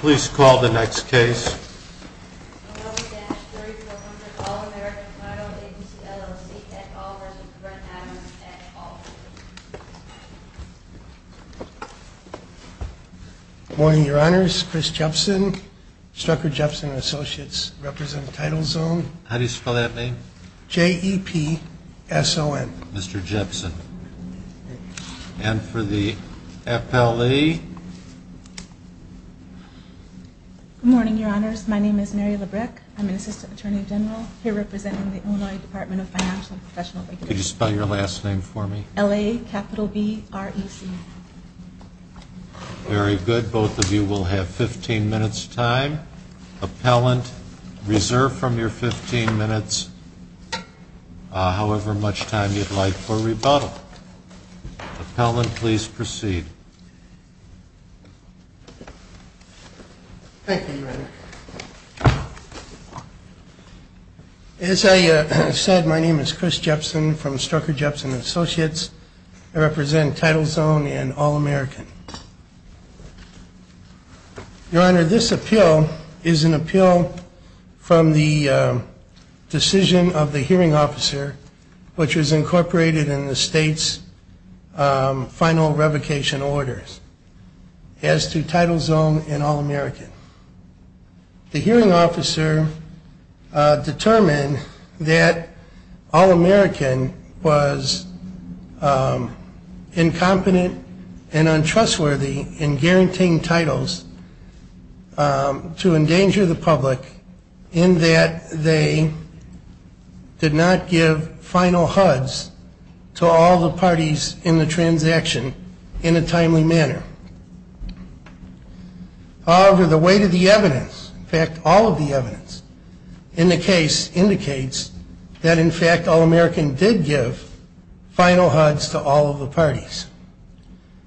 Please call the next case. Good morning, Your Honors. Chris Jepson, Strucker Jepson & Associates, representing TitleZone. How do you spell that name? J-E-P-S-O-N. Mr. Jepson. And for the appellee? Good morning, Your Honors. My name is Mary Labreck. I'm an Assistant Attorney General here representing the Illinois Department of Financial and Professional Regulations. Could you spell your last name for me? L-A-B-R-E-C. Very good. Both of you will have 15 minutes time. Appellant, reserve from your 15 minutes however much time you'd like for rebuttal. Appellant, please proceed. Thank you, Your Honor. As I said, my name is Chris Jepson from Strucker Jepson & Associates. I represent TitleZone and All American. Your Honor, this appeal is an appeal from the decision of the hearing officer, which was incorporated in the state's final revocation orders, as to TitleZone and All American. The hearing officer determined that All American was incompetent and untrustworthy in guaranteeing titles to endanger the public in that they did not give the right to revocation. However, the weight of the evidence, in fact, all of the evidence in the case indicates that, in fact, All American did give final HUDs to all of the parties.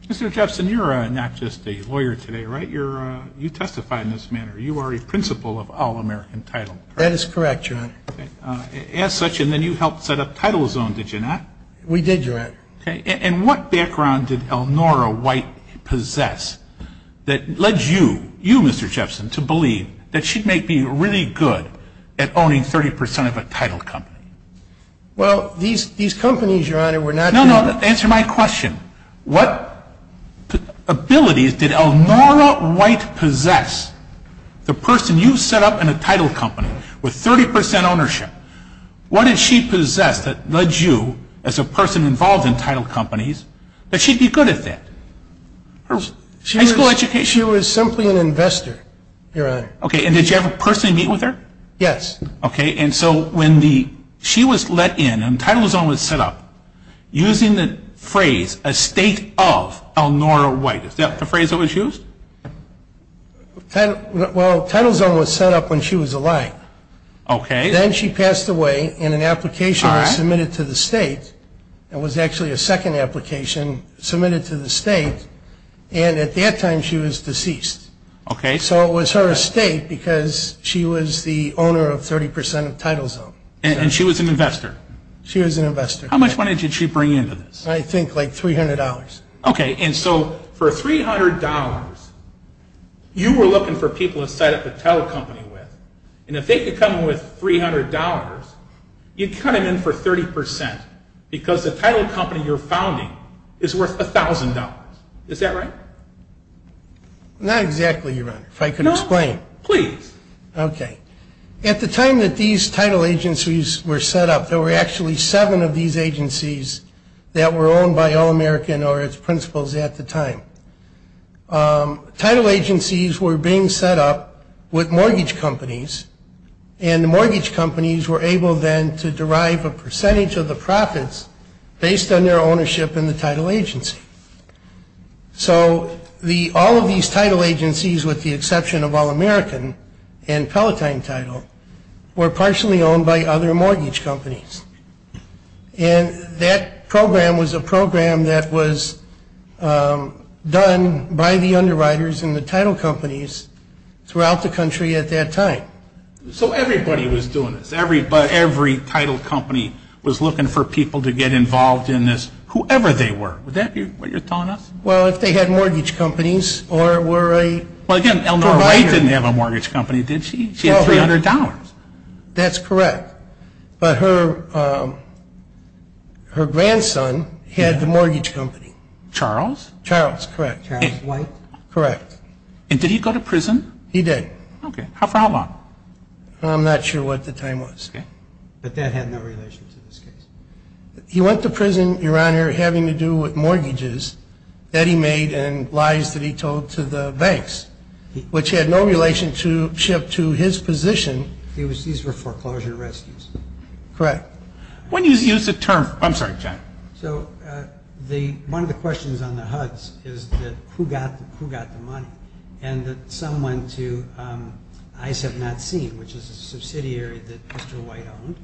Mr. Jepson, you're not just a lawyer today, right? You testify in this manner. You are a principal of All American Title. That is correct, Your Honor. As such, and then you helped set up TitleZone, did you not? We did, Your Honor. And what background did Elnora White possess that led you, you, Mr. Jepson, to believe that she'd make me really good at owning 30 percent of a title company? Well, these companies, Your Honor, were not... No, no, answer my question. What abilities did Elnora White possess? The person you set up in a title company with 30 percent ownership. What did she possess that led you, as a person involved in title companies, that she'd be good at that? She was simply an investor, Your Honor. Okay, and did you ever personally meet with her? Yes. Okay, and so when she was let in and TitleZone was set up, using the phrase, estate of Elnora White, is that the phrase that was used? Well, TitleZone was set up when she was alive. Okay. Then she passed away in an application that was submitted to the state. It was actually a second application submitted to the state, and at that time she was deceased. Okay. So it was her estate because she was the owner of 30 percent of TitleZone. And she was an investor? She was an investor. How much money did she bring into this? I think like $300. Okay, and so for $300, you were looking for people to set up a title company with, and if they could come in with $300, you'd cut them in for 30 percent because the title company you're founding is worth $1,000. Is that right? Not exactly, Your Honor, if I could explain. No, please. Okay. At the time that these title agencies were set up, there were actually seven of these agencies that were owned by All-American or its principals at the time. Title agencies were being set up with mortgage companies, and the mortgage companies were able then to derive a percentage of the profits based on their ownership in the title agency. So all of these title agencies, with the exception of All-American and Palatine Title, were partially owned by other mortgage companies. And that program was a program that was done by the underwriters and the title companies throughout the country at that time. So everybody was doing this. Every title company was looking for people to get involved in this, whoever they were. Would that be what you're telling us? Well, if they had mortgage companies or were a provider. Well, again, Eleanor Wright didn't have a mortgage company, did she? She had $300. That's correct. But her grandson had the mortgage company. Charles? Charles, correct. And did he go to prison? He did. How far along? I'm not sure what the time was. But that had no relation to this case. He went to prison, Your Honor, having to do with mortgages that he made and lies that he told to the banks, which had no relationship to his position. These were foreclosure rescues. Correct. One of the questions on the HUDs is who got the money, and that some went to Eyes Have Not Seen, which is a subsidiary that Mr. White owned.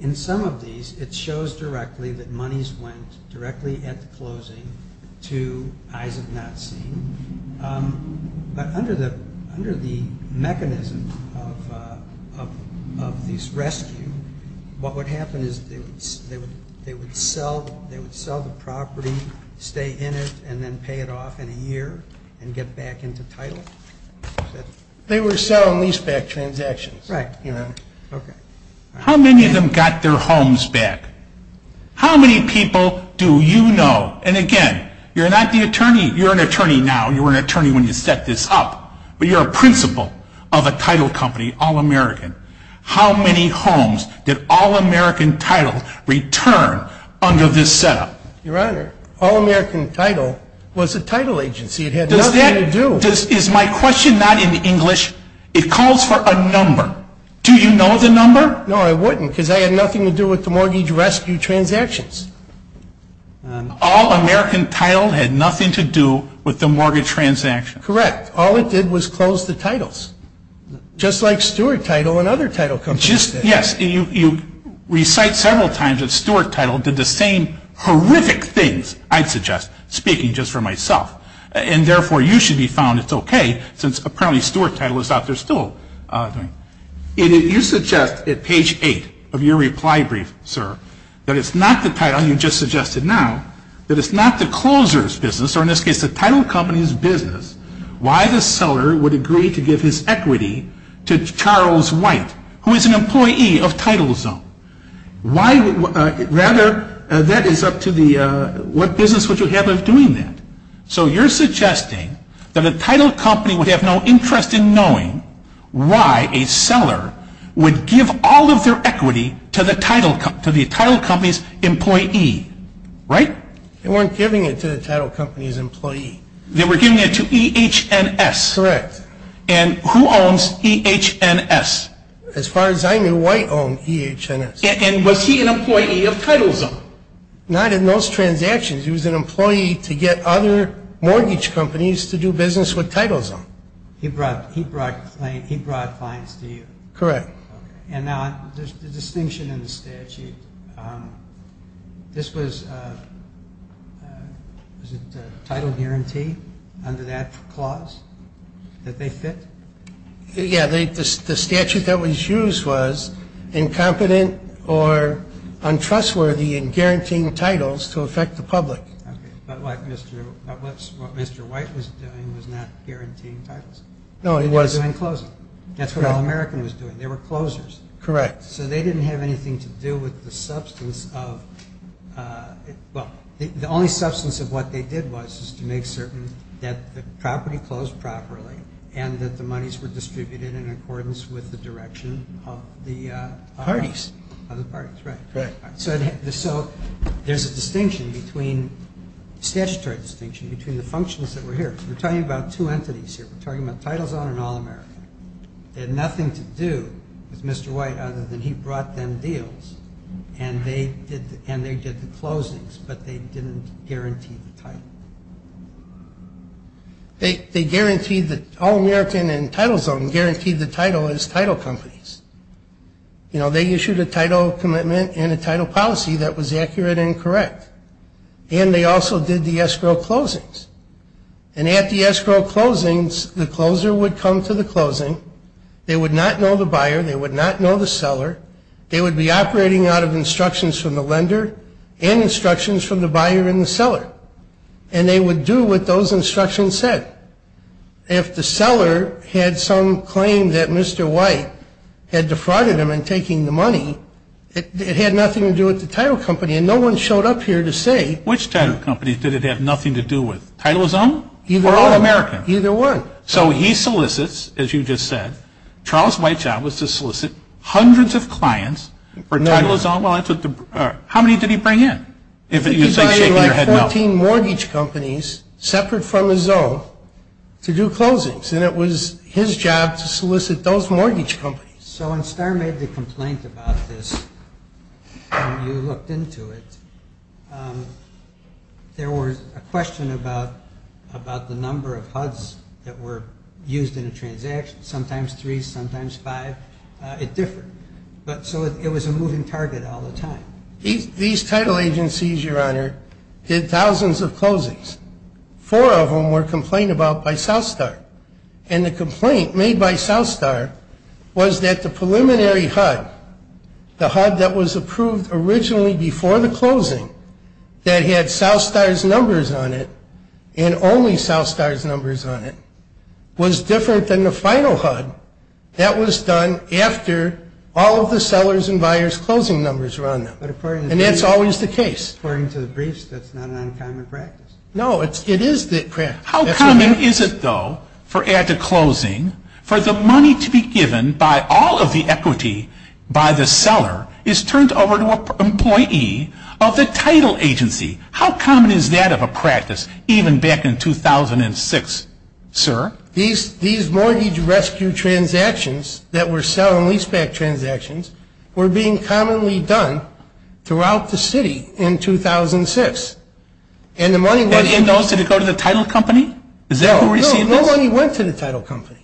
In some of these, it shows directly that monies went directly at the closing to Eyes Have Not Seen. But under the mechanism of these rescues, what would happen is they would sell the property, stay in it, and then pay it off in a year and get back into title? They were selling leaseback transactions. Right. How many of them got their homes back? How many people do you know? And again, you're not the attorney. You're an attorney now. You were an attorney when you set this up. But you're a principal of a title company, All American. How many homes did All American Title return under this setup? Your Honor, All American Title was a title agency. It had nothing to do. Is my question not in English? It calls for a number. Do you know the number? No, I wouldn't, because I had nothing to do with the mortgage rescue transactions. All American Title had nothing to do with the mortgage transactions. Correct. In fact, all it did was close the titles, just like Stuart Title and other title companies did. Yes, you recite several times that Stuart Title did the same horrific things, I'd suggest, speaking just for myself. And therefore, you should be found it's okay, since apparently Stuart Title is out there still. You suggest at page 8 of your reply brief, sir, that it's not the title you just suggested now, that it's not the closer's business, or in this case the title company's business, why the seller would agree to give his equity to Charles White, who is an employee of TitleZone. Rather, that is up to what business would you have of doing that. So you're suggesting that a title company would have no interest in knowing why a seller would give all of their equity to the title company's employee, right? They weren't giving it to the title company's employee. They were giving it to EH&S. Correct. And who owns EH&S? As far as I knew, White owned EH&S. And was he an employee of TitleZone? Not in those transactions. He was an employee to get other mortgage companies to do business with TitleZone. He brought clients to you? Correct. Okay. And now the distinction in the statute, this was a title guarantee under that clause that they fit? Yeah, the statute that was used was incompetent or untrustworthy in guaranteeing titles to affect the public. Okay. But what Mr. White was doing was not guaranteeing titles? No, he wasn't. He was doing closing. That's what All-American was doing. They were closers. Correct. So they didn't have anything to do with the substance of – well, the only substance of what they did was to make certain that the property closed properly and that the monies were distributed in accordance with the direction of the parties. Of the parties, right. So there's a distinction between – statutory distinction between the functions that were here. We're talking about two entities here. We're talking about TitleZone and All-American. They had nothing to do with Mr. White other than he brought them deals and they did the closings, but they didn't guarantee the title. They guaranteed – All-American and TitleZone guaranteed the title as title companies. You know, they issued a title commitment and a title policy that was accurate and correct. And they also did the escrow closings. And at the escrow closings, the closer would come to the closing. They would not know the buyer. They would not know the seller. They would be operating out of instructions from the lender and instructions from the buyer and the seller. And they would do what those instructions said. If the seller had some claim that Mr. White had defrauded him in taking the money, it had nothing to do with the title company. And no one showed up here to say – Which title company did it have nothing to do with? TitleZone or All-American? Either one. So he solicits, as you just said, Charles White's job was to solicit hundreds of clients for TitleZone. How many did he bring in? He brought in like 14 mortgage companies separate from his own to do closings. And it was his job to solicit those mortgage companies. So when Starr made the complaint about this and you looked into it, there was a question about the number of HUDs that were used in a transaction, sometimes three, sometimes five. It differed. So it was a moving target all the time. These title agencies, Your Honor, did thousands of closings. Four of them were complained about by Southstar. And the complaint made by Southstar was that the preliminary HUD, the HUD that was approved originally before the closing that had Southstar's numbers on it and only Southstar's numbers on it, was different than the final HUD that was done after all of the sellers and buyers' closing numbers were on them. And that's always the case. According to the briefs, that's not an uncommon practice. No, it is the practice. How common is it, though, for at the closing, for the money to be given by all of the equity by the seller is turned over to an employee of the title agency? How common is that of a practice even back in 2006, sir? These mortgage rescue transactions that were selling leaseback transactions were being commonly done throughout the city in 2006. And the money went to the – And did it go to the title company? Is that who received it? No, no money went to the title company.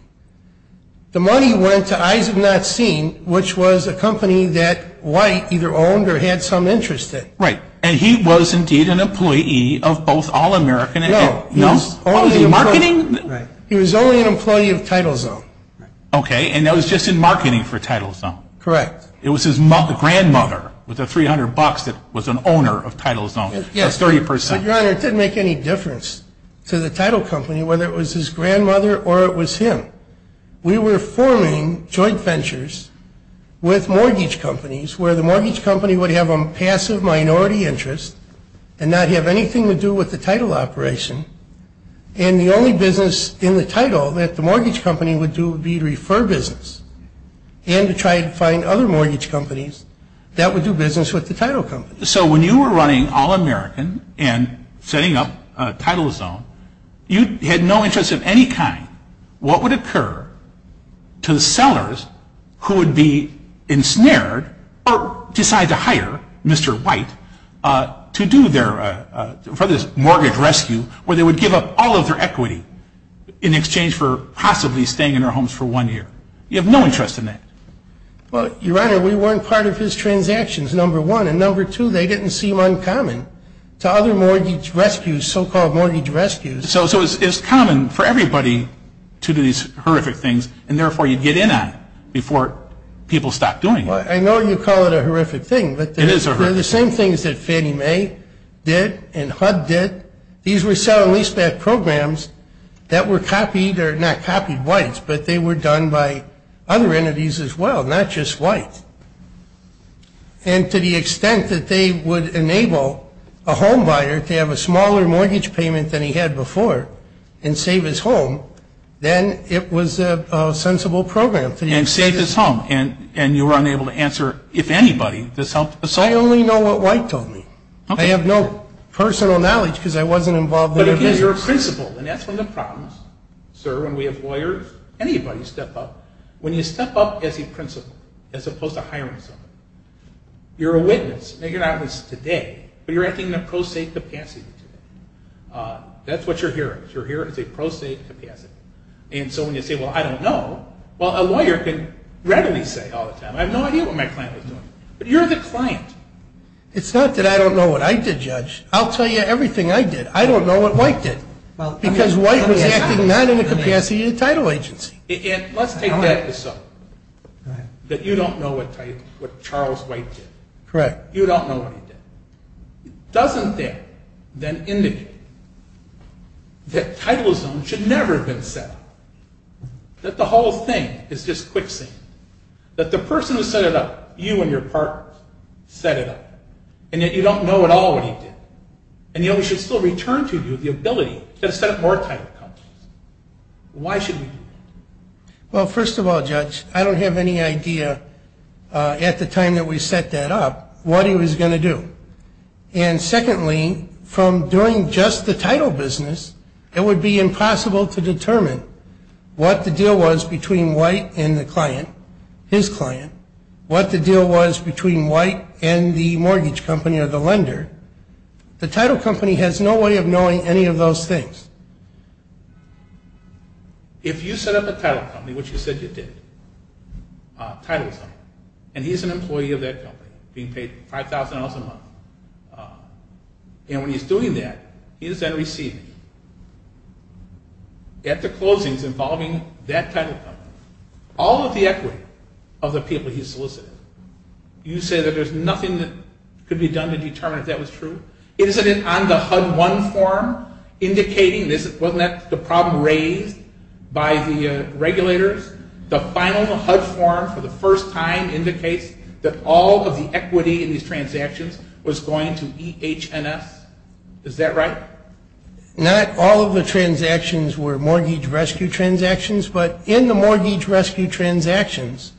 The money went to Eyes of Not Seen, which was a company that White either owned or had some interest in. Right. And he was indeed an employee of both All American and – No. No? He was only – Oh, he was in marketing? Right. He was only an employee of TitleZone. Right. Okay. And that was just in marketing for TitleZone. Correct. It was his grandmother with the $300 that was an owner of TitleZone. Yes. That's 30 percent. But, Your Honor, it didn't make any difference to the title company whether it was his grandmother or it was him. We were forming joint ventures with mortgage companies where the mortgage company would have a passive minority interest and not have anything to do with the title operation. And the only business in the title that the mortgage company would do would be to refer business and to try to find other mortgage companies that would do business with the title company. So when you were running All American and setting up TitleZone, you had no interest of any kind. What would occur to the sellers who would be ensnared or decide to hire Mr. White to do their – for this mortgage rescue where they would give up all of their equity in exchange for possibly staying in their homes for one year? You have no interest in that. Well, Your Honor, we weren't part of his transactions, number one. And number two, they didn't seem uncommon to other mortgage rescues, so-called mortgage rescues. So it's common for everybody to do these horrific things, and therefore you'd get in on it before people stopped doing it. I know you call it a horrific thing. It is a horrific thing. But they're the same things that Fannie Mae did and HUD did. These were selling leaseback programs that were copied or not copied White's, but they were done by other entities as well, not just White's. And to the extent that they would enable a homebuyer to have a smaller mortgage payment than he had before and save his home, then it was a sensible program. And save his home. And you were unable to answer, if anybody, this helped the seller? I only know what White told me. I have no personal knowledge because I wasn't involved in any of this. But again, you're a principal, and that's one of the problems, sir, when we have lawyers, anybody step up. When you step up as a principal as opposed to hiring someone, you're a witness. Now, you're not a witness today, but you're acting in a pro se capacity today. That's what you're here as. You're here as a pro se capacity. And so when you say, well, I don't know, well, a lawyer can readily say all the time, I have no idea what my client was doing. But you're the client. It's not that I don't know what I did, Judge. I'll tell you everything I did. I don't know what White did because White was acting not in the capacity of the title agency. Let's take the episode that you don't know what Charles White did. Correct. You don't know what he did. It doesn't, then, indicate that titlism should never have been set up. That the whole thing is just quicksand. That the person who set it up, you and your partners, set it up. And yet you don't know at all what he did. And yet we should still return to you the ability to set up more title companies. Why should we do that? Well, first of all, Judge, I don't have any idea at the time that we set that up what he was going to do. And secondly, from doing just the title business, it would be impossible to determine what the deal was between White and the client, his client, what the deal was between White and the mortgage company or the lender. The title company has no way of knowing any of those things. If you set up a title company, which you said you did, titlism, and he's an employee of that company being paid $5,000 a month, and when he's doing that, he's then receiving, at the closings involving that title company, all of the equity of the people he solicited, you say that there's nothing that could be done to determine if that was true? Isn't it on the HUD-1 form indicating this? Wasn't that the problem raised by the regulators? The final HUD form for the first time indicates that all of the equity in these transactions was going to EH&S. Is that right? Not all of the transactions were mortgage rescue transactions, but in the mortgage rescue transactions,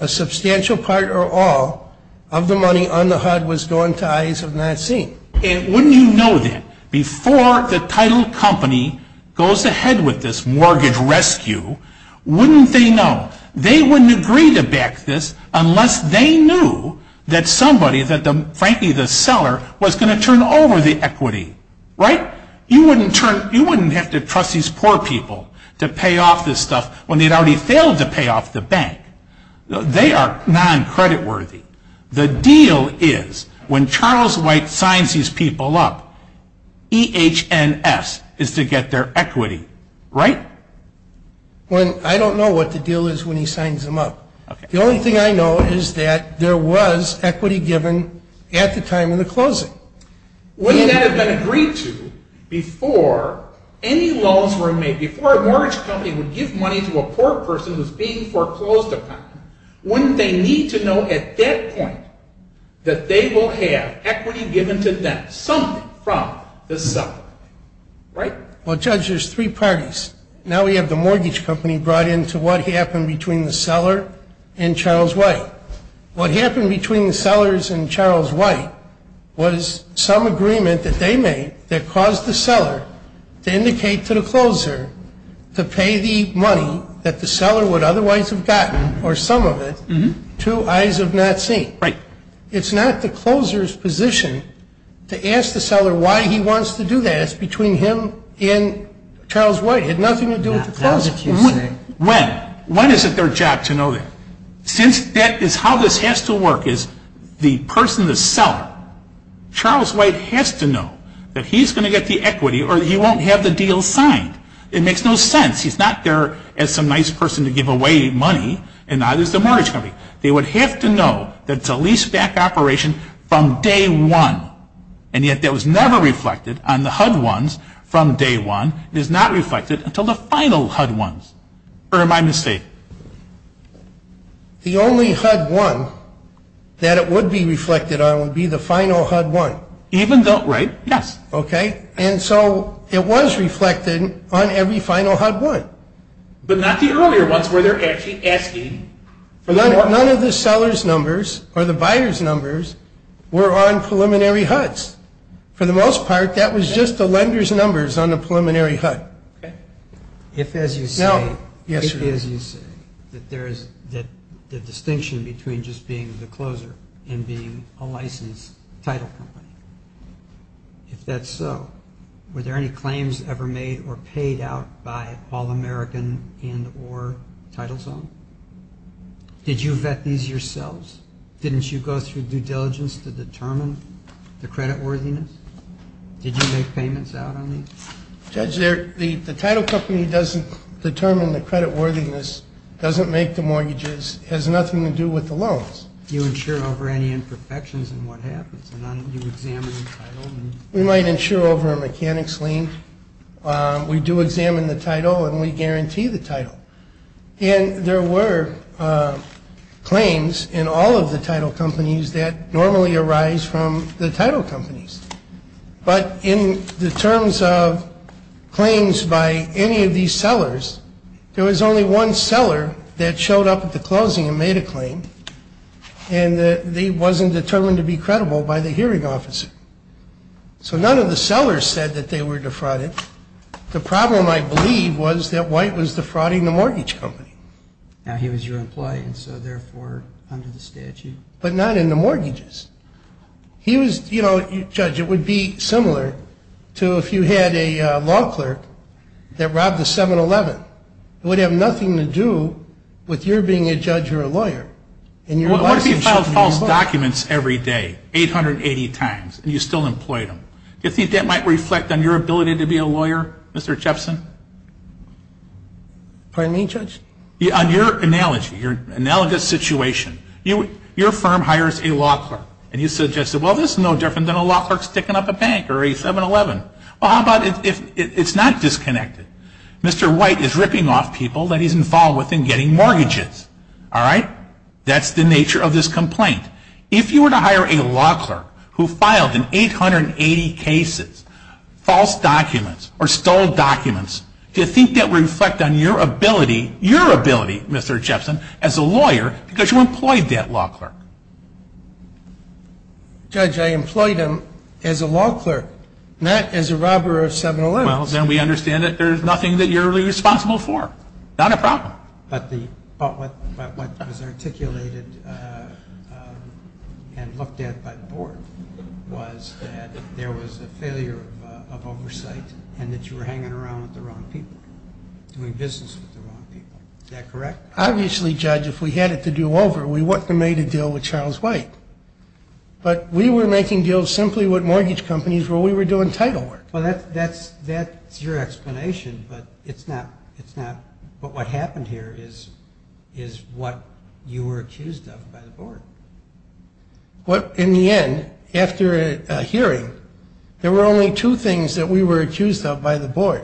a substantial part or all of the money on the HUD was going to eyes of not seeing. And wouldn't you know that? Before the title company goes ahead with this mortgage rescue, wouldn't they know? They wouldn't agree to back this unless they knew that somebody, that frankly the seller, was going to turn over the equity. Right? You wouldn't have to trust these poor people to pay off this stuff when they'd already failed to pay off the bank. They are non-creditworthy. The deal is when Charles White signs these people up, EH&S is to get their equity. Right? I don't know what the deal is when he signs them up. The only thing I know is that there was equity given at the time of the closing. Wouldn't that have been agreed to before any laws were made, before a mortgage company would give money to a poor person who's being foreclosed upon? Wouldn't they need to know at that point that they will have equity given to them, something from the seller? Right? Well, Judge, there's three parties. Now we have the mortgage company brought in to what happened between the seller and Charles White. What happened between the sellers and Charles White was some agreement that they made that caused the seller to indicate to the closer to pay the money that the seller would otherwise have gotten, or some of it, to eyes of not seeing. Right. It's not the closer's position to ask the seller why he wants to do that. It's between him and Charles White. It had nothing to do with the closer. When? When is it their job to know that? Since that is how this has to work is the person, the seller, Charles White has to know that he's going to get the equity or he won't have the deal signed. It makes no sense. He's not there as some nice person to give away money, and neither is the mortgage company. They would have to know that it's a lease-back operation from day one, and yet that was never reflected on the HUD ones from day one. It is not reflected until the final HUD ones. Or am I mistaken? The only HUD one that it would be reflected on would be the final HUD one. Even though, right? Yes. Okay. And so it was reflected on every final HUD one. But not the earlier ones where they're actually asking. None of the seller's numbers or the buyer's numbers were on preliminary HUDs. For the most part, that was just the lender's numbers on the preliminary HUD. Okay. If, as you say, that there is the distinction between just being the closer and being a licensed title company, if that's so, were there any claims ever made or paid out by All-American and or TitleZone? Did you vet these yourselves? Didn't you go through due diligence to determine the creditworthiness? Did you make payments out on these? Judge, the title company doesn't determine the creditworthiness, doesn't make the mortgages, has nothing to do with the loans. Do you insure over any imperfections in what happens? Do you examine the title? We might insure over a mechanics lien. We do examine the title and we guarantee the title. And there were claims in all of the title companies that normally arise from the title companies. But in the terms of claims by any of these sellers, there was only one seller that showed up at the closing and made a claim and they wasn't determined to be credible by the hearing officer. So none of the sellers said that they were defrauded. The problem, I believe, was that White was defrauding the mortgage company. Now, he was your employee, and so therefore under the statute. But not in the mortgages. He was, you know, Judge, it would be similar to if you had a law clerk that robbed a 7-Eleven. It would have nothing to do with your being a judge or a lawyer. What if he filed false documents every day, 880 times, and you still employed him? Do you think that might reflect on your ability to be a lawyer, Mr. Jepson? Pardon me, Judge? On your analogy, your analogous situation, your firm hires a law clerk, and you suggested, well, this is no different than a law clerk sticking up a bank or a 7-Eleven. Well, how about if it's not disconnected? Mr. White is ripping off people that he's involved with in getting mortgages. All right? That's the nature of this complaint. If you were to hire a law clerk who filed in 880 cases false documents or stole documents, do you think that would reflect on your ability, your ability, Mr. Jepson, as a lawyer because you employed that law clerk? Judge, I employed him as a law clerk, not as a robber of 7-Elevens. Well, then we understand that there's nothing that you're really responsible for. Not a problem. But what was articulated and looked at by the Board was that there was a failure of oversight and that you were hanging around with the wrong people, doing business with the wrong people. Is that correct? Obviously, Judge, if we had it to do over, we wouldn't have made a deal with Charles White. But we were making deals simply with mortgage companies where we were doing title work. Well, that's your explanation, but what happened here is what you were accused of by the Board. In the end, after a hearing, there were only two things that we were accused of by the Board.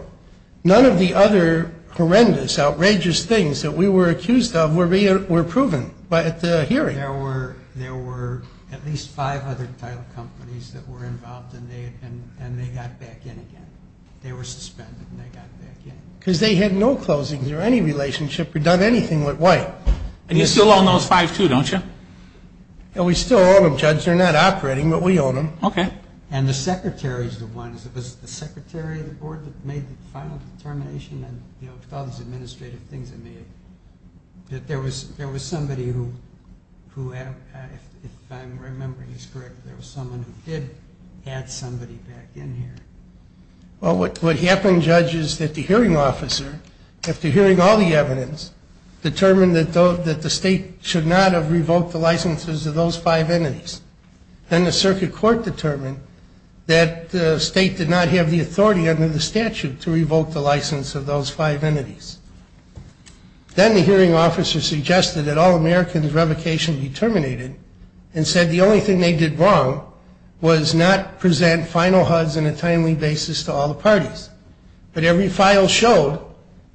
None of the other horrendous, outrageous things that we were accused of were proven at the hearing. There were at least five other title companies that were involved, and they got back in again. They were suspended, and they got back in again. Because they had no closings or any relationship or done anything with White. And you still own those five, too, don't you? We still own them, Judge. They're not operating, but we own them. Okay. And the secretary is the one. Was it the secretary of the Board that made the final determination and did all these administrative things that there was somebody who, if I'm remembering this correctly, there was someone who did add somebody back in here? Well, what happened, Judge, is that the hearing officer, after hearing all the evidence, determined that the state should not have revoked the licenses of those five entities. Then the circuit court determined that the state did not have the authority under the statute to revoke the license of those five entities. Then the hearing officer suggested that all Americans' revocation be terminated and said the only thing they did wrong was not present final HUDs on a timely basis to all the parties. But every file showed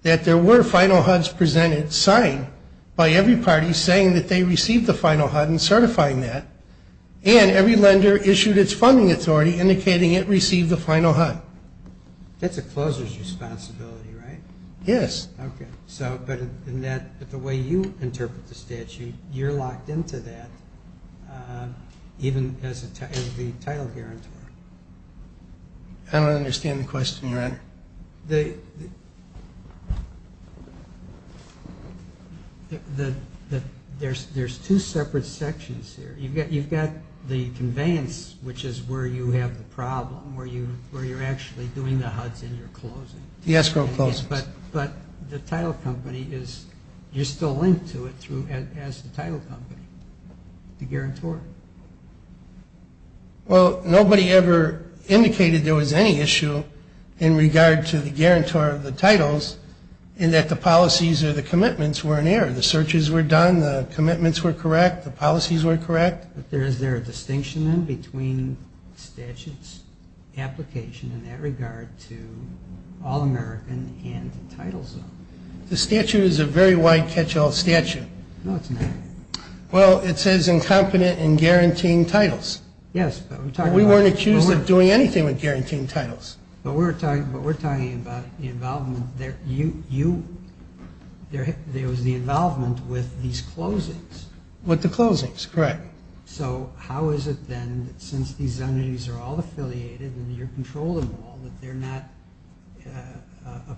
that there were final HUDs presented, signed, by every party saying that they received the final HUD and certifying that. And every lender issued its funding authority indicating it received the final HUD. That's a closer's responsibility, right? Yes. Okay. But the way you interpret the statute, you're locked into that, even as the title guarantor. I don't understand the question, Your Honor. There's two separate sections here. You've got the conveyance, which is where you have the problem, where you're actually doing the HUDs and you're closing. The escrow closes. But the title company, you're still linked to it as the title company, the guarantor. Well, nobody ever indicated there was any issue in regard to the guarantor of the titles in that the policies or the commitments were in error. The searches were done. The commitments were correct. The policies were correct. Is there a distinction, then, between the statute's application in that regard to all American and the title zone? The statute is a very wide catch-all statute. No, it's not. Well, it says incompetent in guaranteeing titles. Yes. We weren't accused of doing anything with guaranteeing titles. But we're talking about the involvement. There was the involvement with these closings. With the closings. Correct. So how is it, then, since these entities are all affiliated and you're controlling them all, that they're not a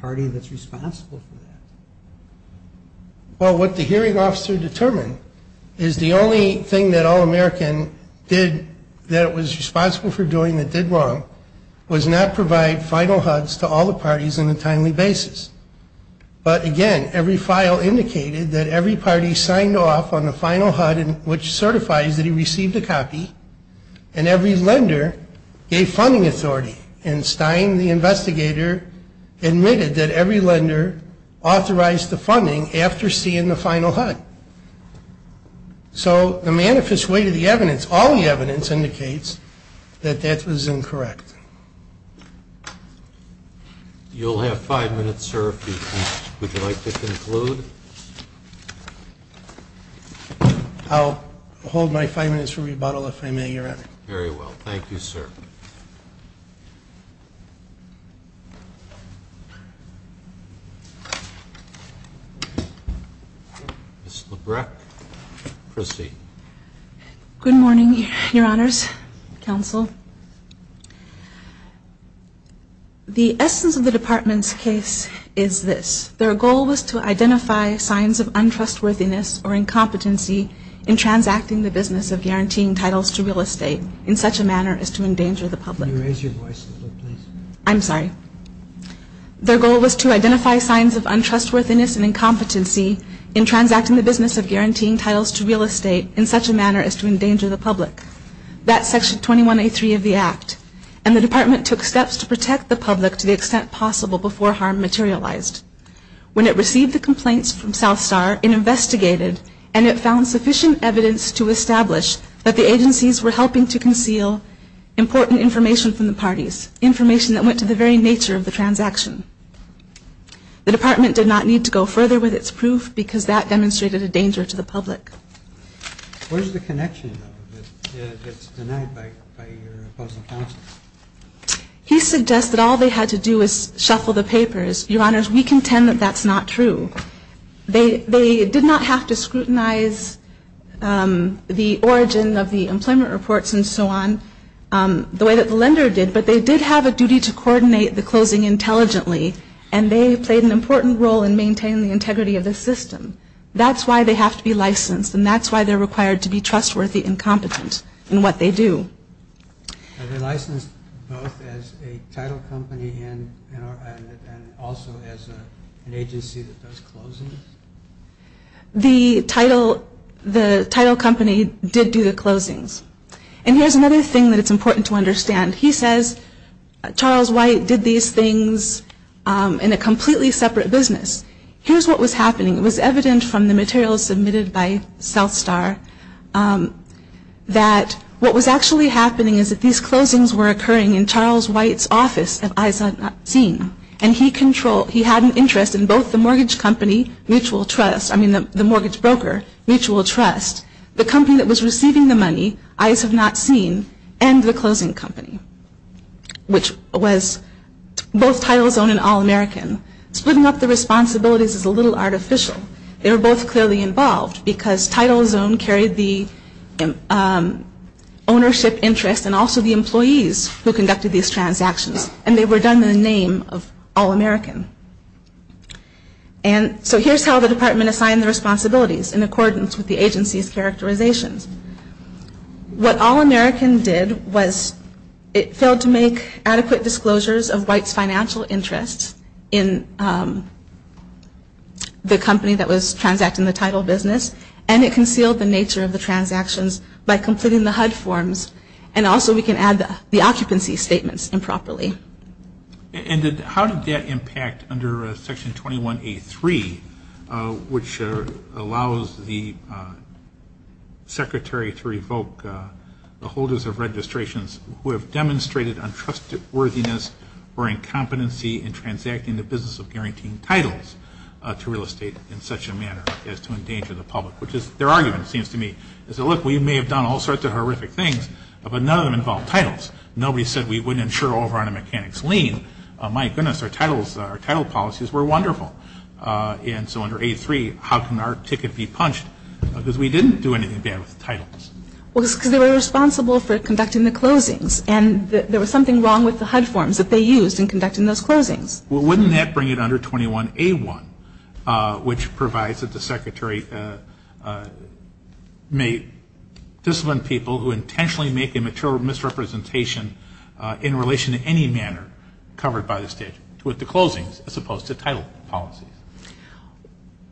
party that's responsible for that? Well, what the hearing officer determined is the only thing that all American did that it was responsible for doing that did wrong was not provide final HUDs to all the parties on a timely basis. But, again, every file indicated that every party signed off on the final HUD which certifies that he received a copy, and every lender gave funding authority. And Stein, the investigator, admitted that every lender authorized the funding after seeing the final HUD. So the manifest weight of the evidence, all the evidence, indicates that that was incorrect. You'll have five minutes, sir, if you'd like to conclude. I'll hold my five minutes for rebuttal, if I may, Your Honor. Very well. Thank you, sir. Ms. Labreck, proceed. Good morning, Your Honors, Counsel. The essence of the Department's case is this. Their goal was to identify signs of untrustworthiness or incompetency in transacting the business of guaranteeing titles to real estate in such a manner as to endanger the public. Can you raise your voice a little, please? I'm sorry. Their goal was to identify signs of untrustworthiness and incompetency in transacting the business of guaranteeing titles to real estate in such a manner as to endanger the public. That's Section 21A3 of the Act, and the Department took steps to protect the public to the extent possible before harm materialized. When it received the complaints from South Star, it investigated, and it found sufficient evidence to establish that the agencies were helping to conceal important information from the parties, information that went to the very nature of the transaction. The Department did not need to go further with its proof because that demonstrated a danger to the public. Where's the connection, though, that gets denied by your opposing counsel? He suggests that all they had to do was shuffle the papers. Your Honors, we contend that that's not true. They did not have to scrutinize the origin of the employment reports and so on the way that the lender did, but they did have a duty to coordinate the closing intelligently, and they played an important role in maintaining the integrity of the system. That's why they have to be licensed, and that's why they're required to be trustworthy and competent in what they do. Are they licensed both as a title company and also as an agency that does closings? The title company did do the closings. And here's another thing that it's important to understand. He says Charles White did these things in a completely separate business. Here's what was happening. It was evident from the materials submitted by South Star that what was actually happening is that these closings were occurring in Charles White's office at Eyes Have Not Seen, and he had an interest in both the mortgage broker, Mutual Trust, the company that was receiving the money, Eyes Have Not Seen, and the closing company, which was both TitleZone and All-American. Splitting up the responsibilities is a little artificial. They were both clearly involved because TitleZone carried the ownership interest and also the employees who conducted these transactions, and they were done in the name of All-American. And so here's how the department assigned the responsibilities in accordance with the agency's characterizations. What All-American did was it failed to make adequate disclosures of White's financial interests in the company that was transacting the title business, and it concealed the nature of the transactions by completing the HUD forms, and also we can add the occupancy statements improperly. And how did that impact under Section 21A3, which allows the secretary to revoke the holders of registrations who have demonstrated untrusted worthiness or incompetency in transacting the business of guaranteeing titles to real estate in such a manner as to endanger the public? Which is their argument, it seems to me, is that, look, we may have done all sorts of horrific things, but none of them involved titles. Nobody said we wouldn't insure over on a mechanics lien. My goodness, our title policies were wonderful. And so under 83, how can our ticket be punched? Because we didn't do anything bad with the titles. Well, it's because they were responsible for conducting the closings, and there was something wrong with the HUD forms that they used in conducting those closings. Well, wouldn't that bring it under 21A1, which provides that the secretary may discipline people who intentionally make a misrepresentation in relation to any manner covered by the statute with the closings as opposed to title policies?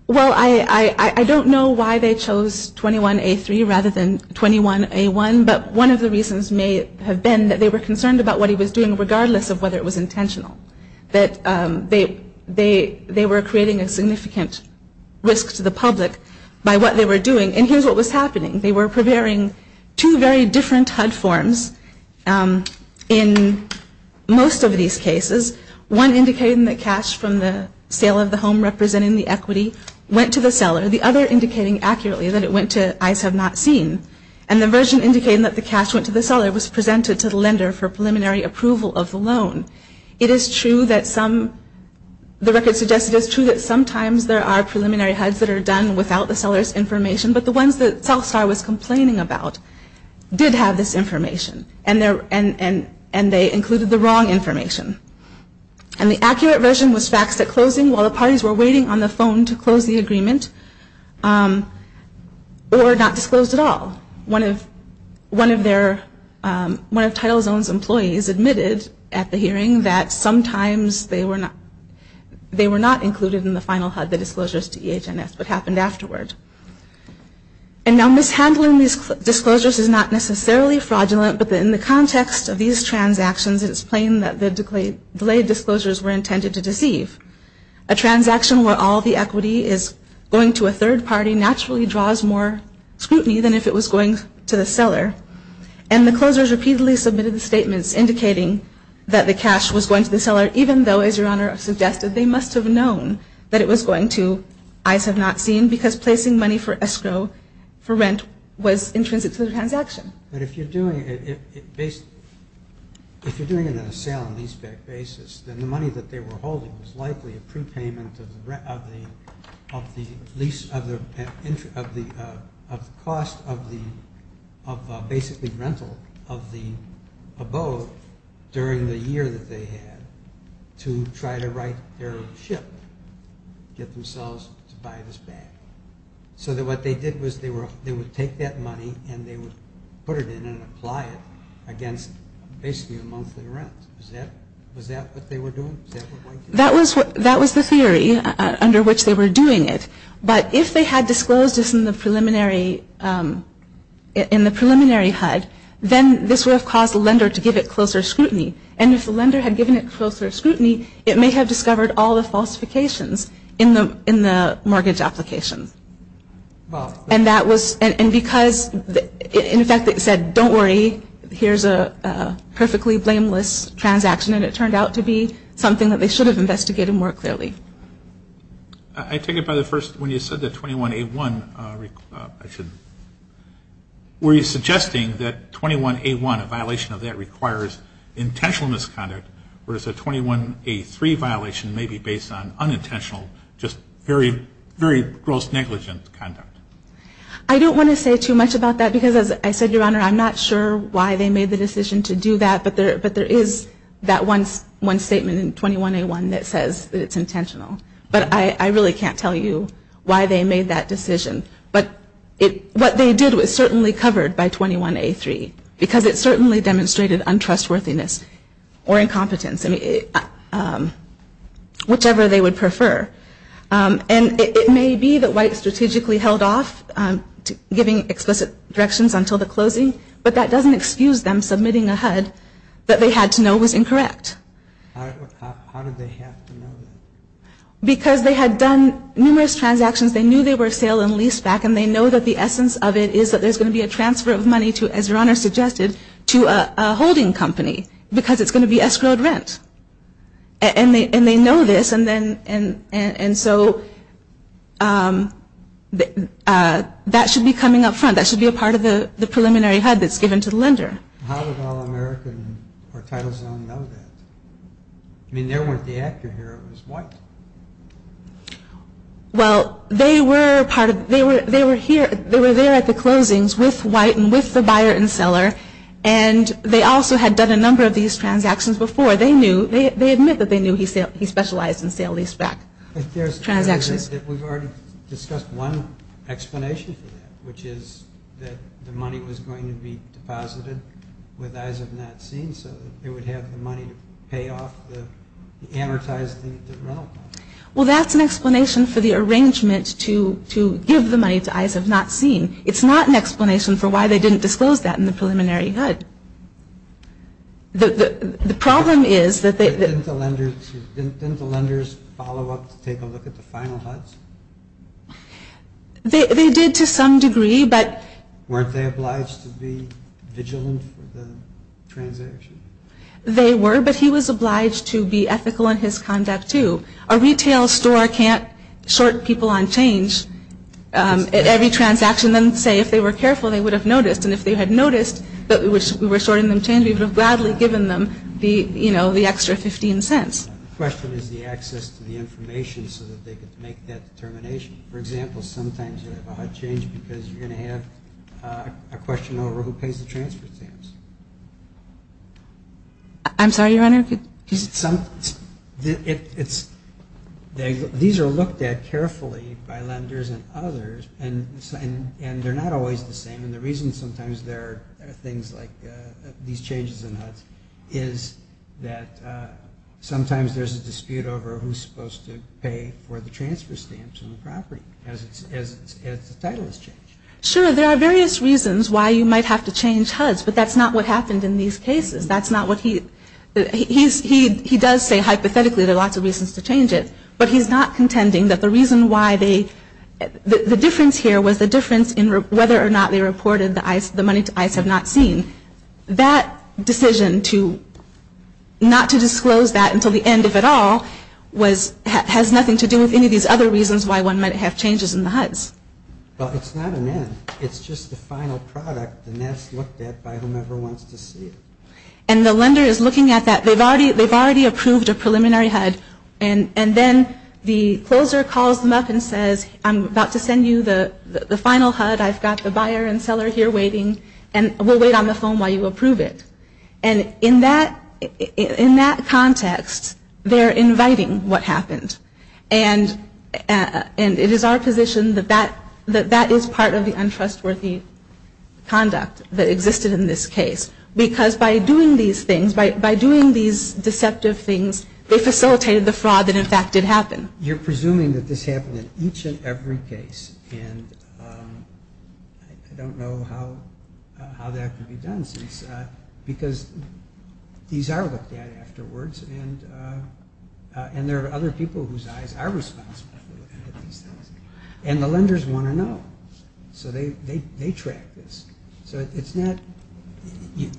Well, I don't know why they chose 21A3 rather than 21A1, but one of the reasons may have been that they were concerned about what he was doing regardless of whether it was intentional, that they were creating a significant risk to the public by what they were doing. And here's what was happening. They were preparing two very different HUD forms in most of these cases, one indicating that cash from the sale of the home representing the equity went to the seller, the other indicating accurately that it went to Eyes Have Not Seen, and the version indicating that the cash went to the seller was presented to the lender for preliminary approval of the loan. It is true that some, the record suggests it is true that sometimes there are preliminary HUDs that are done without the seller's information, but the ones that Southstar was complaining about did have this information, and they included the wrong information. And the accurate version was faxed at closing while the parties were waiting on the phone to close the agreement, or not disclosed at all. One of Title Zone's employees admitted at the hearing that sometimes they were not included in the final HUD, the disclosures to EH&S, but happened afterward. And now mishandling these disclosures is not necessarily fraudulent, but in the context of these transactions, it is plain that the delayed disclosures were intended to deceive. A transaction where all the equity is going to a third party naturally draws more scrutiny than if it was going to the seller, and the closers repeatedly submitted statements indicating that the cash was going to the seller, even though, as Your Honor suggested, they must have known that it was going to Eyes Have Not Seen because placing money for escrow for rent was intrinsic to the transaction. But if you're doing it on a sale and leaseback basis, then the money that they were holding was likely a prepayment of the cost of basically rental of the boat during the year that they had to try to right their ship, get themselves to buy this back. So what they did was they would take that money and they would put it in and apply it against basically a monthly rent. Was that what they were doing? That was the theory under which they were doing it. But if they had disclosed this in the preliminary HUD, then this would have caused the lender to give it closer scrutiny. And if the lender had given it closer scrutiny, it may have discovered all the falsifications in the mortgage application. And because, in fact, it said, don't worry, here's a perfectly blameless transaction, and it turned out to be something that they should have investigated more clearly. I take it by the first, when you said that 21A1, were you suggesting that 21A1, a violation of that, requires intentional misconduct, whereas a 21A3 violation may be based on unintentional, just very, very gross negligent conduct? I don't want to say too much about that because, as I said, Your Honor, I'm not sure why they made the decision to do that, but there is that one statement in 21A1 that says that it's intentional. But I really can't tell you why they made that decision. But what they did was certainly covered by 21A3 because it certainly demonstrated untrustworthiness or incompetence, whichever they would prefer. And it may be that White strategically held off giving explicit directions until the closing, but that doesn't excuse them submitting a HUD that they had to know was incorrect. How did they have to know that? Because they had done numerous transactions, they knew they were sale and lease back, and they know that the essence of it is that there's going to be a transfer of money to, as Your Honor suggested, to a holding company because it's going to be escrowed rent. And they know this, and so that should be coming up front. That should be a part of the preliminary HUD that's given to the lender. How would All-American or Title Zone know that? I mean, they weren't the actor here. It was White. Well, they were there at the closings with White and with the buyer and seller, and they also had done a number of these transactions before. They admit that they knew he specialized in sale and lease back transactions. We've already discussed one explanation for that, which is that the money was going to be deposited with eyes of not seeing, so that they would have the money to pay off the amortized rent. Well, that's an explanation for the arrangement to give the money to eyes of not seeing. It's not an explanation for why they didn't disclose that in the preliminary HUD. The problem is that they... Didn't the lenders follow up to take a look at the final HUDs? They did to some degree, but... They were, but he was obliged to be ethical in his conduct, too. A retail store can't short people on change at every transaction and then say if they were careful, they would have noticed, and if they had noticed that we were shorting them change, we would have gladly given them the extra 15 cents. The question is the access to the information so that they could make that determination. For example, sometimes you have a HUD change because you're going to have a question over who pays the transfer stamps. I'm sorry, Your Honor? These are looked at carefully by lenders and others, and they're not always the same, and the reason sometimes there are things like these changes in HUDs is that sometimes there's a dispute over who's supposed to pay for the transfer stamps on the property as the title is changed. Sure, there are various reasons why you might have to change HUDs, but that's not what happened in these cases. That's not what he... He does say hypothetically there are lots of reasons to change it, but he's not contending that the reason why they... The difference here was the difference in whether or not they reported the money to ICE have not seen. That decision not to disclose that until the end of it all has nothing to do with any of these other reasons why one might have changes in the HUDs. Well, it's not an end. It's just the final product, and that's looked at by whomever wants to see it. And the lender is looking at that. They've already approved a preliminary HUD, and then the closer calls them up and says, I'm about to send you the final HUD. I've got the buyer and seller here waiting, and we'll wait on the phone while you approve it. And in that context, they're inviting what happened. And it is our position that that is part of the untrustworthy conduct that existed in this case because by doing these things, by doing these deceptive things, they facilitated the fraud that, in fact, did happen. You're presuming that this happened in each and every case, and I don't know how that could be done because these are looked at afterwards, and there are other people whose eyes are responsible for looking at these things. And the lenders want to know, so they track this. So it's not you.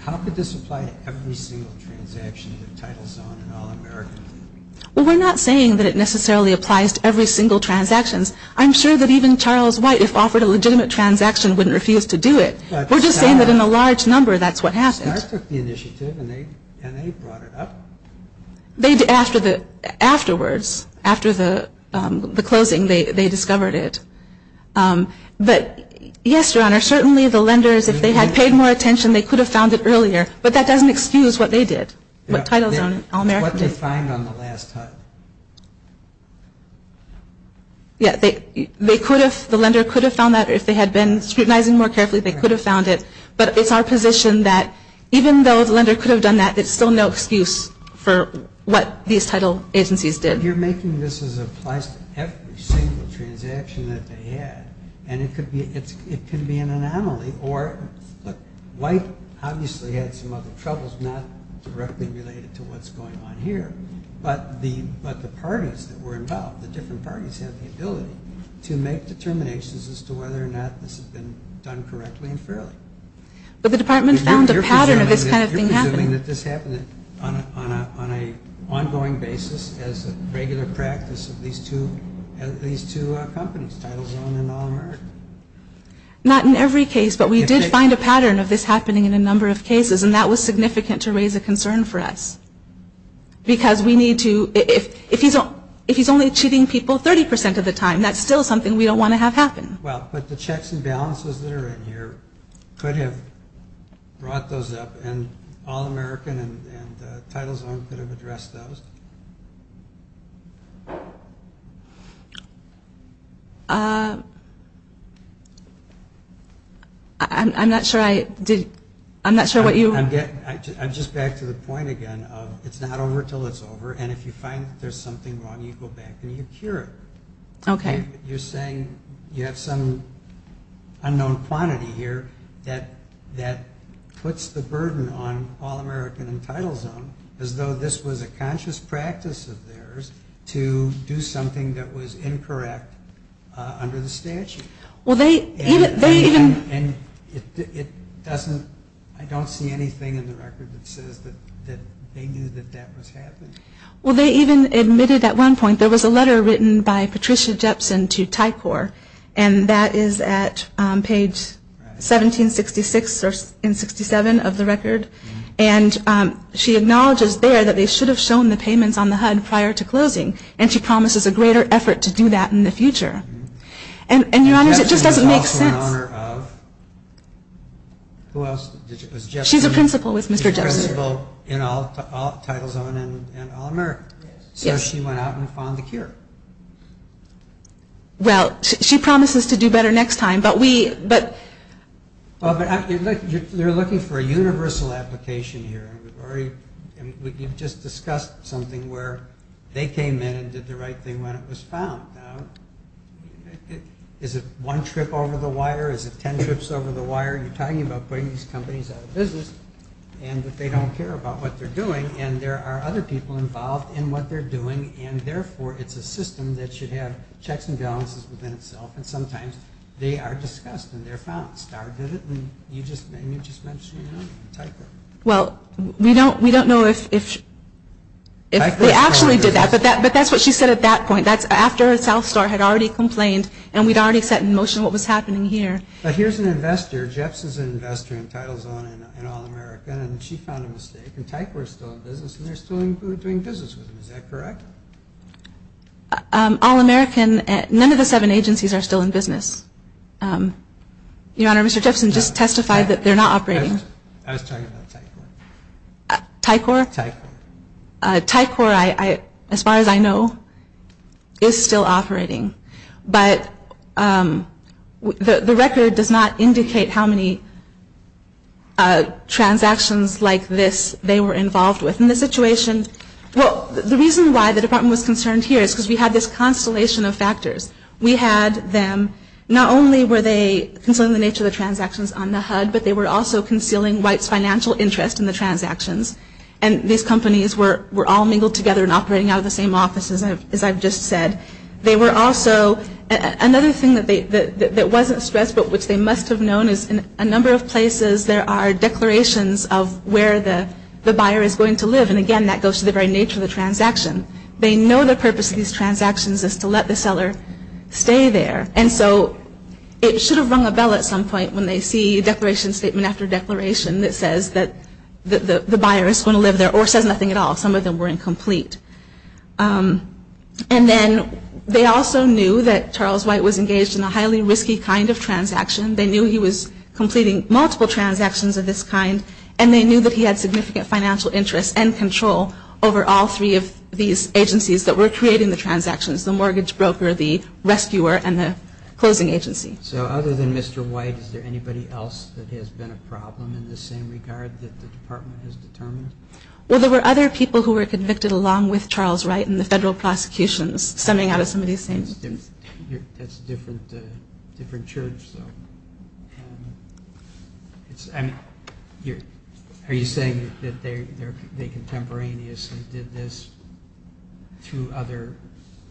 How could this apply to every single transaction that Title Zone and All-American did? Well, we're not saying that it necessarily applies to every single transaction. I'm sure that even Charles White, if offered a legitimate transaction, wouldn't refuse to do it. We're just saying that in a large number, that's what happened. Star took the initiative, and they brought it up. Afterwards, after the closing, they discovered it. But yes, Your Honor, certainly the lenders, if they had paid more attention, they could have found it earlier, but that doesn't excuse what they did. What Title Zone and All-American did. The lender could have found that, or if they had been scrutinizing more carefully, they could have found it. But it's our position that even though the lender could have done that, there's still no excuse for what these title agencies did. You're making this as applies to every single transaction that they had, and it could be an anomaly. White obviously had some other troubles, not directly related to what's going on here, but the parties that were involved, the different parties, had the ability to make determinations as to whether or not this had been done correctly and fairly. But the department found a pattern of this kind of thing happening. You're presuming that this happened on an ongoing basis as a regular practice of these two companies, Title Zone and All-American. Not in every case, but we did find a pattern of this happening in a number of cases, and that was significant to raise a concern for us. Because we need to, if he's only cheating people 30% of the time, that's still something we don't want to have happen. Well, but the checks and balances that are in here could have brought those up, and All-American and Title Zone could have addressed those. I'm not sure I did, I'm not sure what you. I'm just back to the point again of it's not over until it's over, and if you find that there's something wrong, you go back and you cure it. Okay. You're saying you have some unknown quantity here that puts the burden on All-American and Title Zone as though this was a conscious practice of theirs to do something that was incorrect under the statute. And I don't see anything in the record that says that they knew that that was happening. Well, they even admitted at one point, there was a letter written by Patricia Jepson to Tycor, and that is at page 1766 and 67 of the record, and she acknowledges there that they should have shown the payments on the HUD prior to closing, and she promises a greater effort to do that in the future. And, Your Honors, it just doesn't make sense. She's a principal with Mr. Jepson. She's a principal in Title Zone and All-American. So she went out and found the cure. Well, she promises to do better next time, but we... They're looking for a universal application here, and we've just discussed something where they came in and did the right thing when it was found. Is it one trip over the wire? Is it ten trips over the wire? You're talking about putting these companies out of business, and that they don't care about what they're doing, and there are other people involved in what they're doing, and therefore it's a system that should have checks and balances within itself, and sometimes they are discussed and they're found. Starr did it, and you just mentioned Tycor. Well, we don't know if they actually did that, but that's what she said at that point. That's after South Star had already complained, and we'd already set in motion what was happening here. But here's an investor, Jepson's an investor in Title Zone and All-American, and she found a mistake, and Tycor's still in business, and they're still doing business with them. Is that correct? All-American, none of the seven agencies are still in business. Your Honor, Mr. Jepson just testified that they're not operating. I was talking about Tycor. Tycor? Tycor. Tycor, as far as I know, is still operating, but the record does not indicate how many transactions like this they were involved with. And the situation, well, the reason why the department was concerned here is because we had this constellation of factors. We had them, not only were they concealing the nature of the transactions on the HUD, but they were also concealing White's financial interest in the transactions, and these companies were all mingled together and operating out of the same offices, as I've just said. They were also, another thing that wasn't stressed, but which they must have known is in a number of places, there are declarations of where the buyer is going to live, and again, that goes to the very nature of the transaction. They know the purpose of these transactions is to let the seller stay there, and so it should have rung a bell at some point when they see declaration statement after declaration that says that the buyer is going to live there, or says nothing at all. Some of them were incomplete. And then they also knew that Charles White was engaged in a highly risky kind of transaction. They knew he was completing multiple transactions of this kind, and they knew that he had significant financial interest and control over all three of these agencies that were creating the transactions, the mortgage broker, the rescuer, and the closing agency. So other than Mr. White, is there anybody else that has been a problem in the same regard that the department has determined? Well, there were other people who were convicted along with Charles White in the federal prosecutions, stemming out of some of these things. That's a different church, though. Are you saying that they contemporaneously did this through other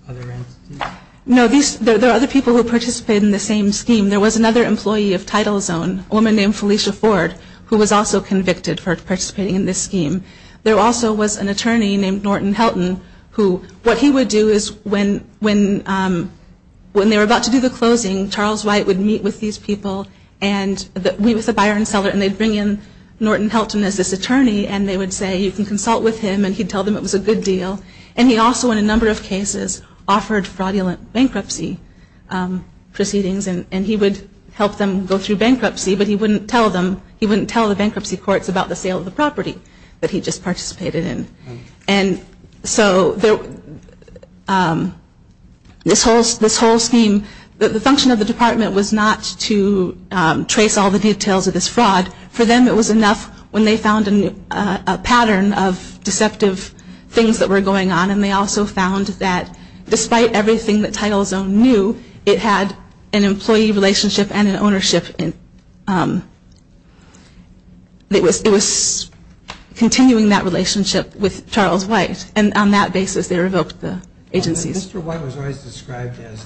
entities? No, there are other people who participated in the same scheme. There was another employee of TitleZone, a woman named Felicia Ford, who was also convicted for participating in this scheme. There also was an attorney named Norton Helton. What he would do is when they were about to do the closing, Charles White would meet with these people, meet with the buyer and seller, and they'd bring in Norton Helton as this attorney, and they would say, you can consult with him, and he'd tell them it was a good deal. And he also, in a number of cases, offered fraudulent bankruptcy proceedings, and he would help them go through bankruptcy, but he wouldn't tell them, he wouldn't tell the bankruptcy courts about the sale of the property that he just participated in. And so this whole scheme, the function of the department was not to trace all the details of this fraud. For them, it was enough when they found a pattern of deceptive things that were going on, and they also found that despite everything that TitleZone knew, it had an employee relationship and an ownership. It was continuing that relationship with Charles White, and on that basis they revoked the agencies. Mr. White was always described as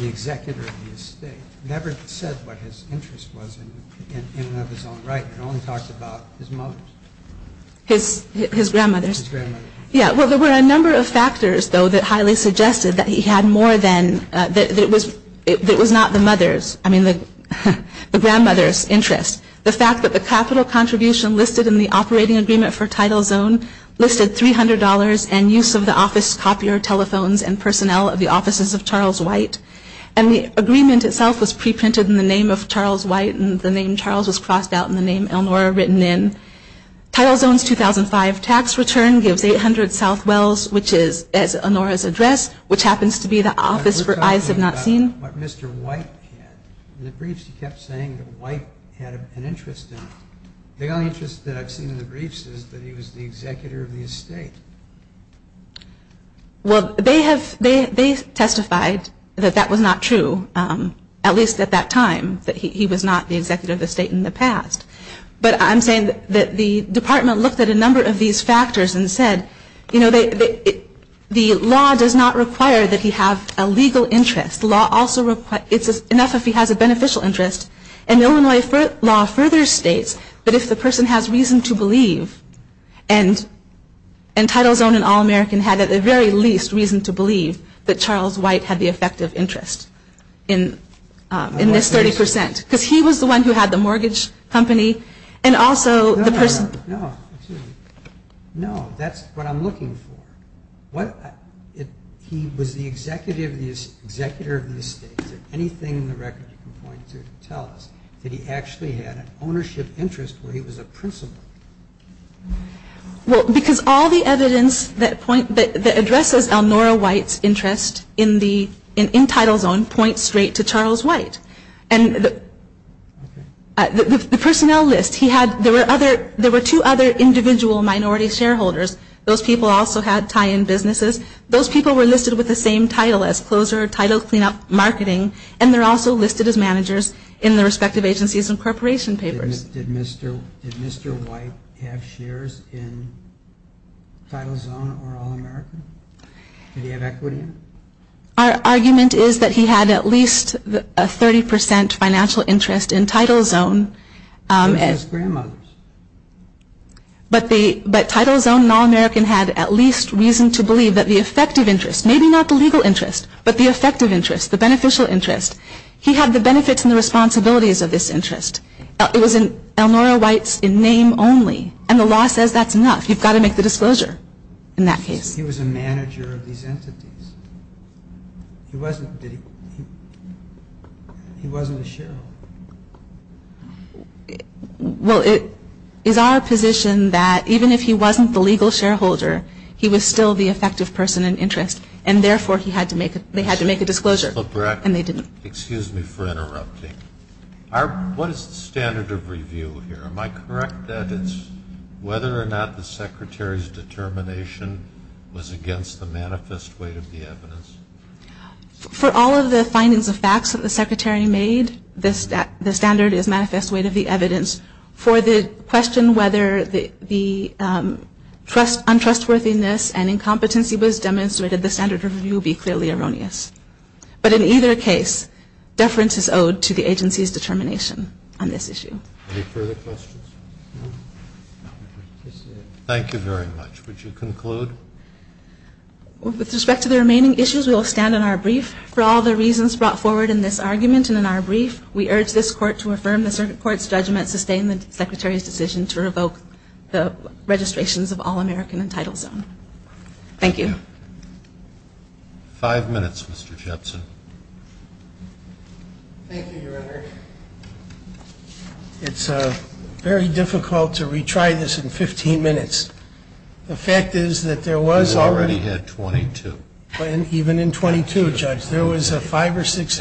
the executor of the estate, never said what his interest was in and of his own right, and only talked about his mother's. His grandmother's. Yeah, well, there were a number of factors, though, that highly suggested that he had more than, that it was not the grandmother's interest. The fact that the capital contribution listed in the operating agreement for TitleZone listed $300 and use of the office copier telephones and personnel of the offices of Charles White. And the agreement itself was pre-printed in the name of Charles White, and the name Charles was crossed out and the name Elnora written in. TitleZone's 2005 tax return gives 800 south wells, which is, as Elnora's addressed, which happens to be the office for Eyes Have Not Seen. But we're talking about what Mr. White had. In the briefs he kept saying that White had an interest in it. The only interest that I've seen in the briefs is that he was the executor of the estate. Well, they have, they testified that that was not true, at least at that time, that he was not the executor of the estate in the past. But I'm saying that the department looked at a number of these factors and said, you know, the law does not require that he have a legal interest. The law also requires, it's enough if he has a beneficial interest. And Illinois law further states that if the person has reason to believe, and TitleZone and All-American had at the very least reason to believe that Charles White had the effective interest in this 30%. Because he was the one who had the mortgage company and also the person. No, no, no. No, that's what I'm looking for. He was the executor of the estate. Is there anything in the record you can point to to tell us that he actually had an ownership interest where he was a principal? Well, because all the evidence that addresses Elnora White's interest in TitleZone points straight to Charles White. And the personnel list, there were two other individual minority shareholders. Those people also had tie-in businesses. Those people were listed with the same title as closer, title, clean-up, marketing, and they're also listed as managers in their respective agencies and corporation papers. Did Mr. White have shares in TitleZone or All-American? Did he have equity in it? Our argument is that he had at least a 30% financial interest in TitleZone. His grandmother's. But TitleZone and All-American had at least reason to believe that the effective interest, maybe not the legal interest, but the effective interest, the beneficial interest, he had the benefits and the responsibilities of this interest. It was in Elnora White's name only. And the law says that's enough. You've got to make the disclosure in that case. He was a manager of these entities. He wasn't a shareholder. Well, it is our position that even if he wasn't the legal shareholder, he was still the effective person in interest. And therefore, they had to make a disclosure. Excuse me for interrupting. What is the standard of review here? Am I correct that it's whether or not the Secretary's determination was against the manifest weight of the evidence? For all of the findings of facts that the Secretary made, the standard is manifest weight of the evidence. For the question whether the untrustworthiness and incompetency was demonstrated, the standard of review would be clearly erroneous. But in either case, deference is owed to the agency's determination on this issue. Any further questions? Thank you very much. Would you conclude? With respect to the remaining issues, we will stand on our brief. For all the reasons brought forward in this argument and in our brief, we urge this Court to affirm the circuit court's judgment, sustain the Secretary's decision to revoke the registrations of all American entitled zone. Thank you. Five minutes, Mr. Jepson. Thank you, Your Honor. It's very difficult to retry this in 15 minutes. The fact is that there was already 22. Even in 22, Judge, there was five or six statements.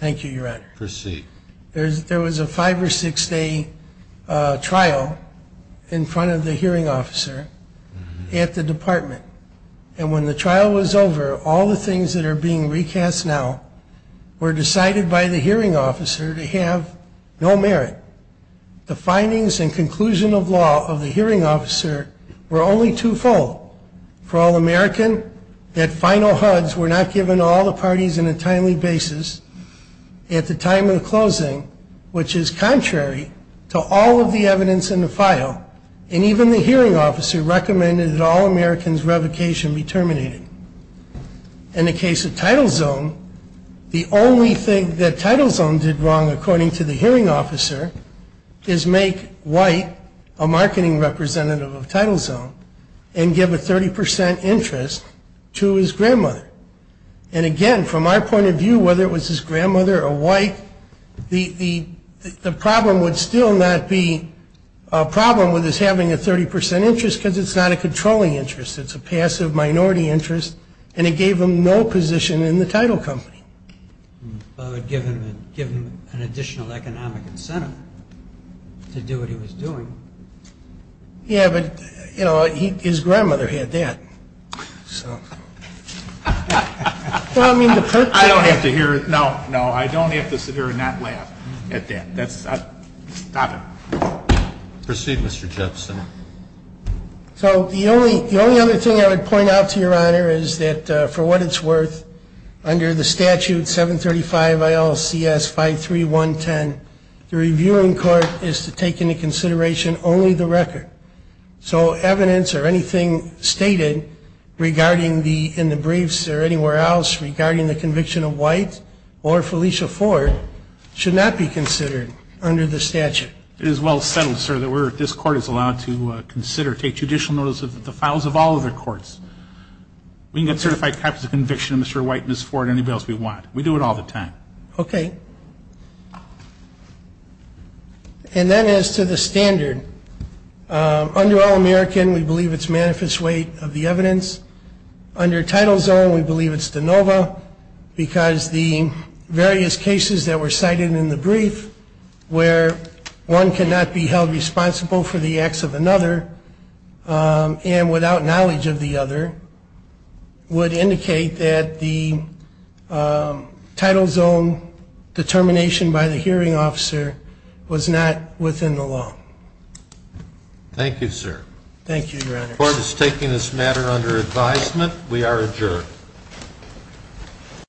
Thank you, Your Honor. Proceed. There was a five- or six-day trial in front of the hearing officer at the department. And when the trial was over, all the things that are being recast now were decided by the hearing officer to have no merit. The findings and conclusion of law of the hearing officer were only twofold. For all American, that final HUDs were not given to all the parties in a timely basis at the time of the closing, which is contrary to all of the evidence in the file. And even the hearing officer recommended that all Americans' revocation be terminated. In the case of title zone, the only thing that title zone did wrong, according to the hearing officer, is make White a marketing representative of title zone and give a 30% interest to his grandmother. And, again, from our point of view, whether it was his grandmother or White, the problem would still not be a problem with his having a 30% interest because it's not a controlling interest. It's a passive minority interest, and it gave him no position in the title company. But it would give him an additional economic incentive to do what he was doing. Yeah, but, you know, his grandmother had that. So. I don't have to hear it. No, no, I don't have to sit here and not laugh at that. That's not it. Proceed, Mr. Jepson. So the only other thing I would point out to Your Honor is that for what it's worth, under the statute 735 ILCS 53110, the reviewing court is to take into consideration only the record. So evidence or anything stated regarding the, in the briefs or anywhere else, regarding the conviction of White or Felicia Ford should not be considered under the statute. It is well settled, sir, that we're, this court is allowed to consider, take judicial notice of the files of all other courts. We can get certified copies of conviction of Mr. White, Ms. Ford, anybody else we want. We do it all the time. Okay. And that is to the standard. Under All-American, we believe it's manifest weight of the evidence. Under Title Zone, we believe it's de novo because the various cases that were cited in the brief where one cannot be held responsible for the acts of another and without knowledge of the other, would indicate that the Title Zone determination by the hearing officer was not within the law. Thank you, sir. Thank you, Your Honor. The court is taking this matter under advisement. We are adjourned.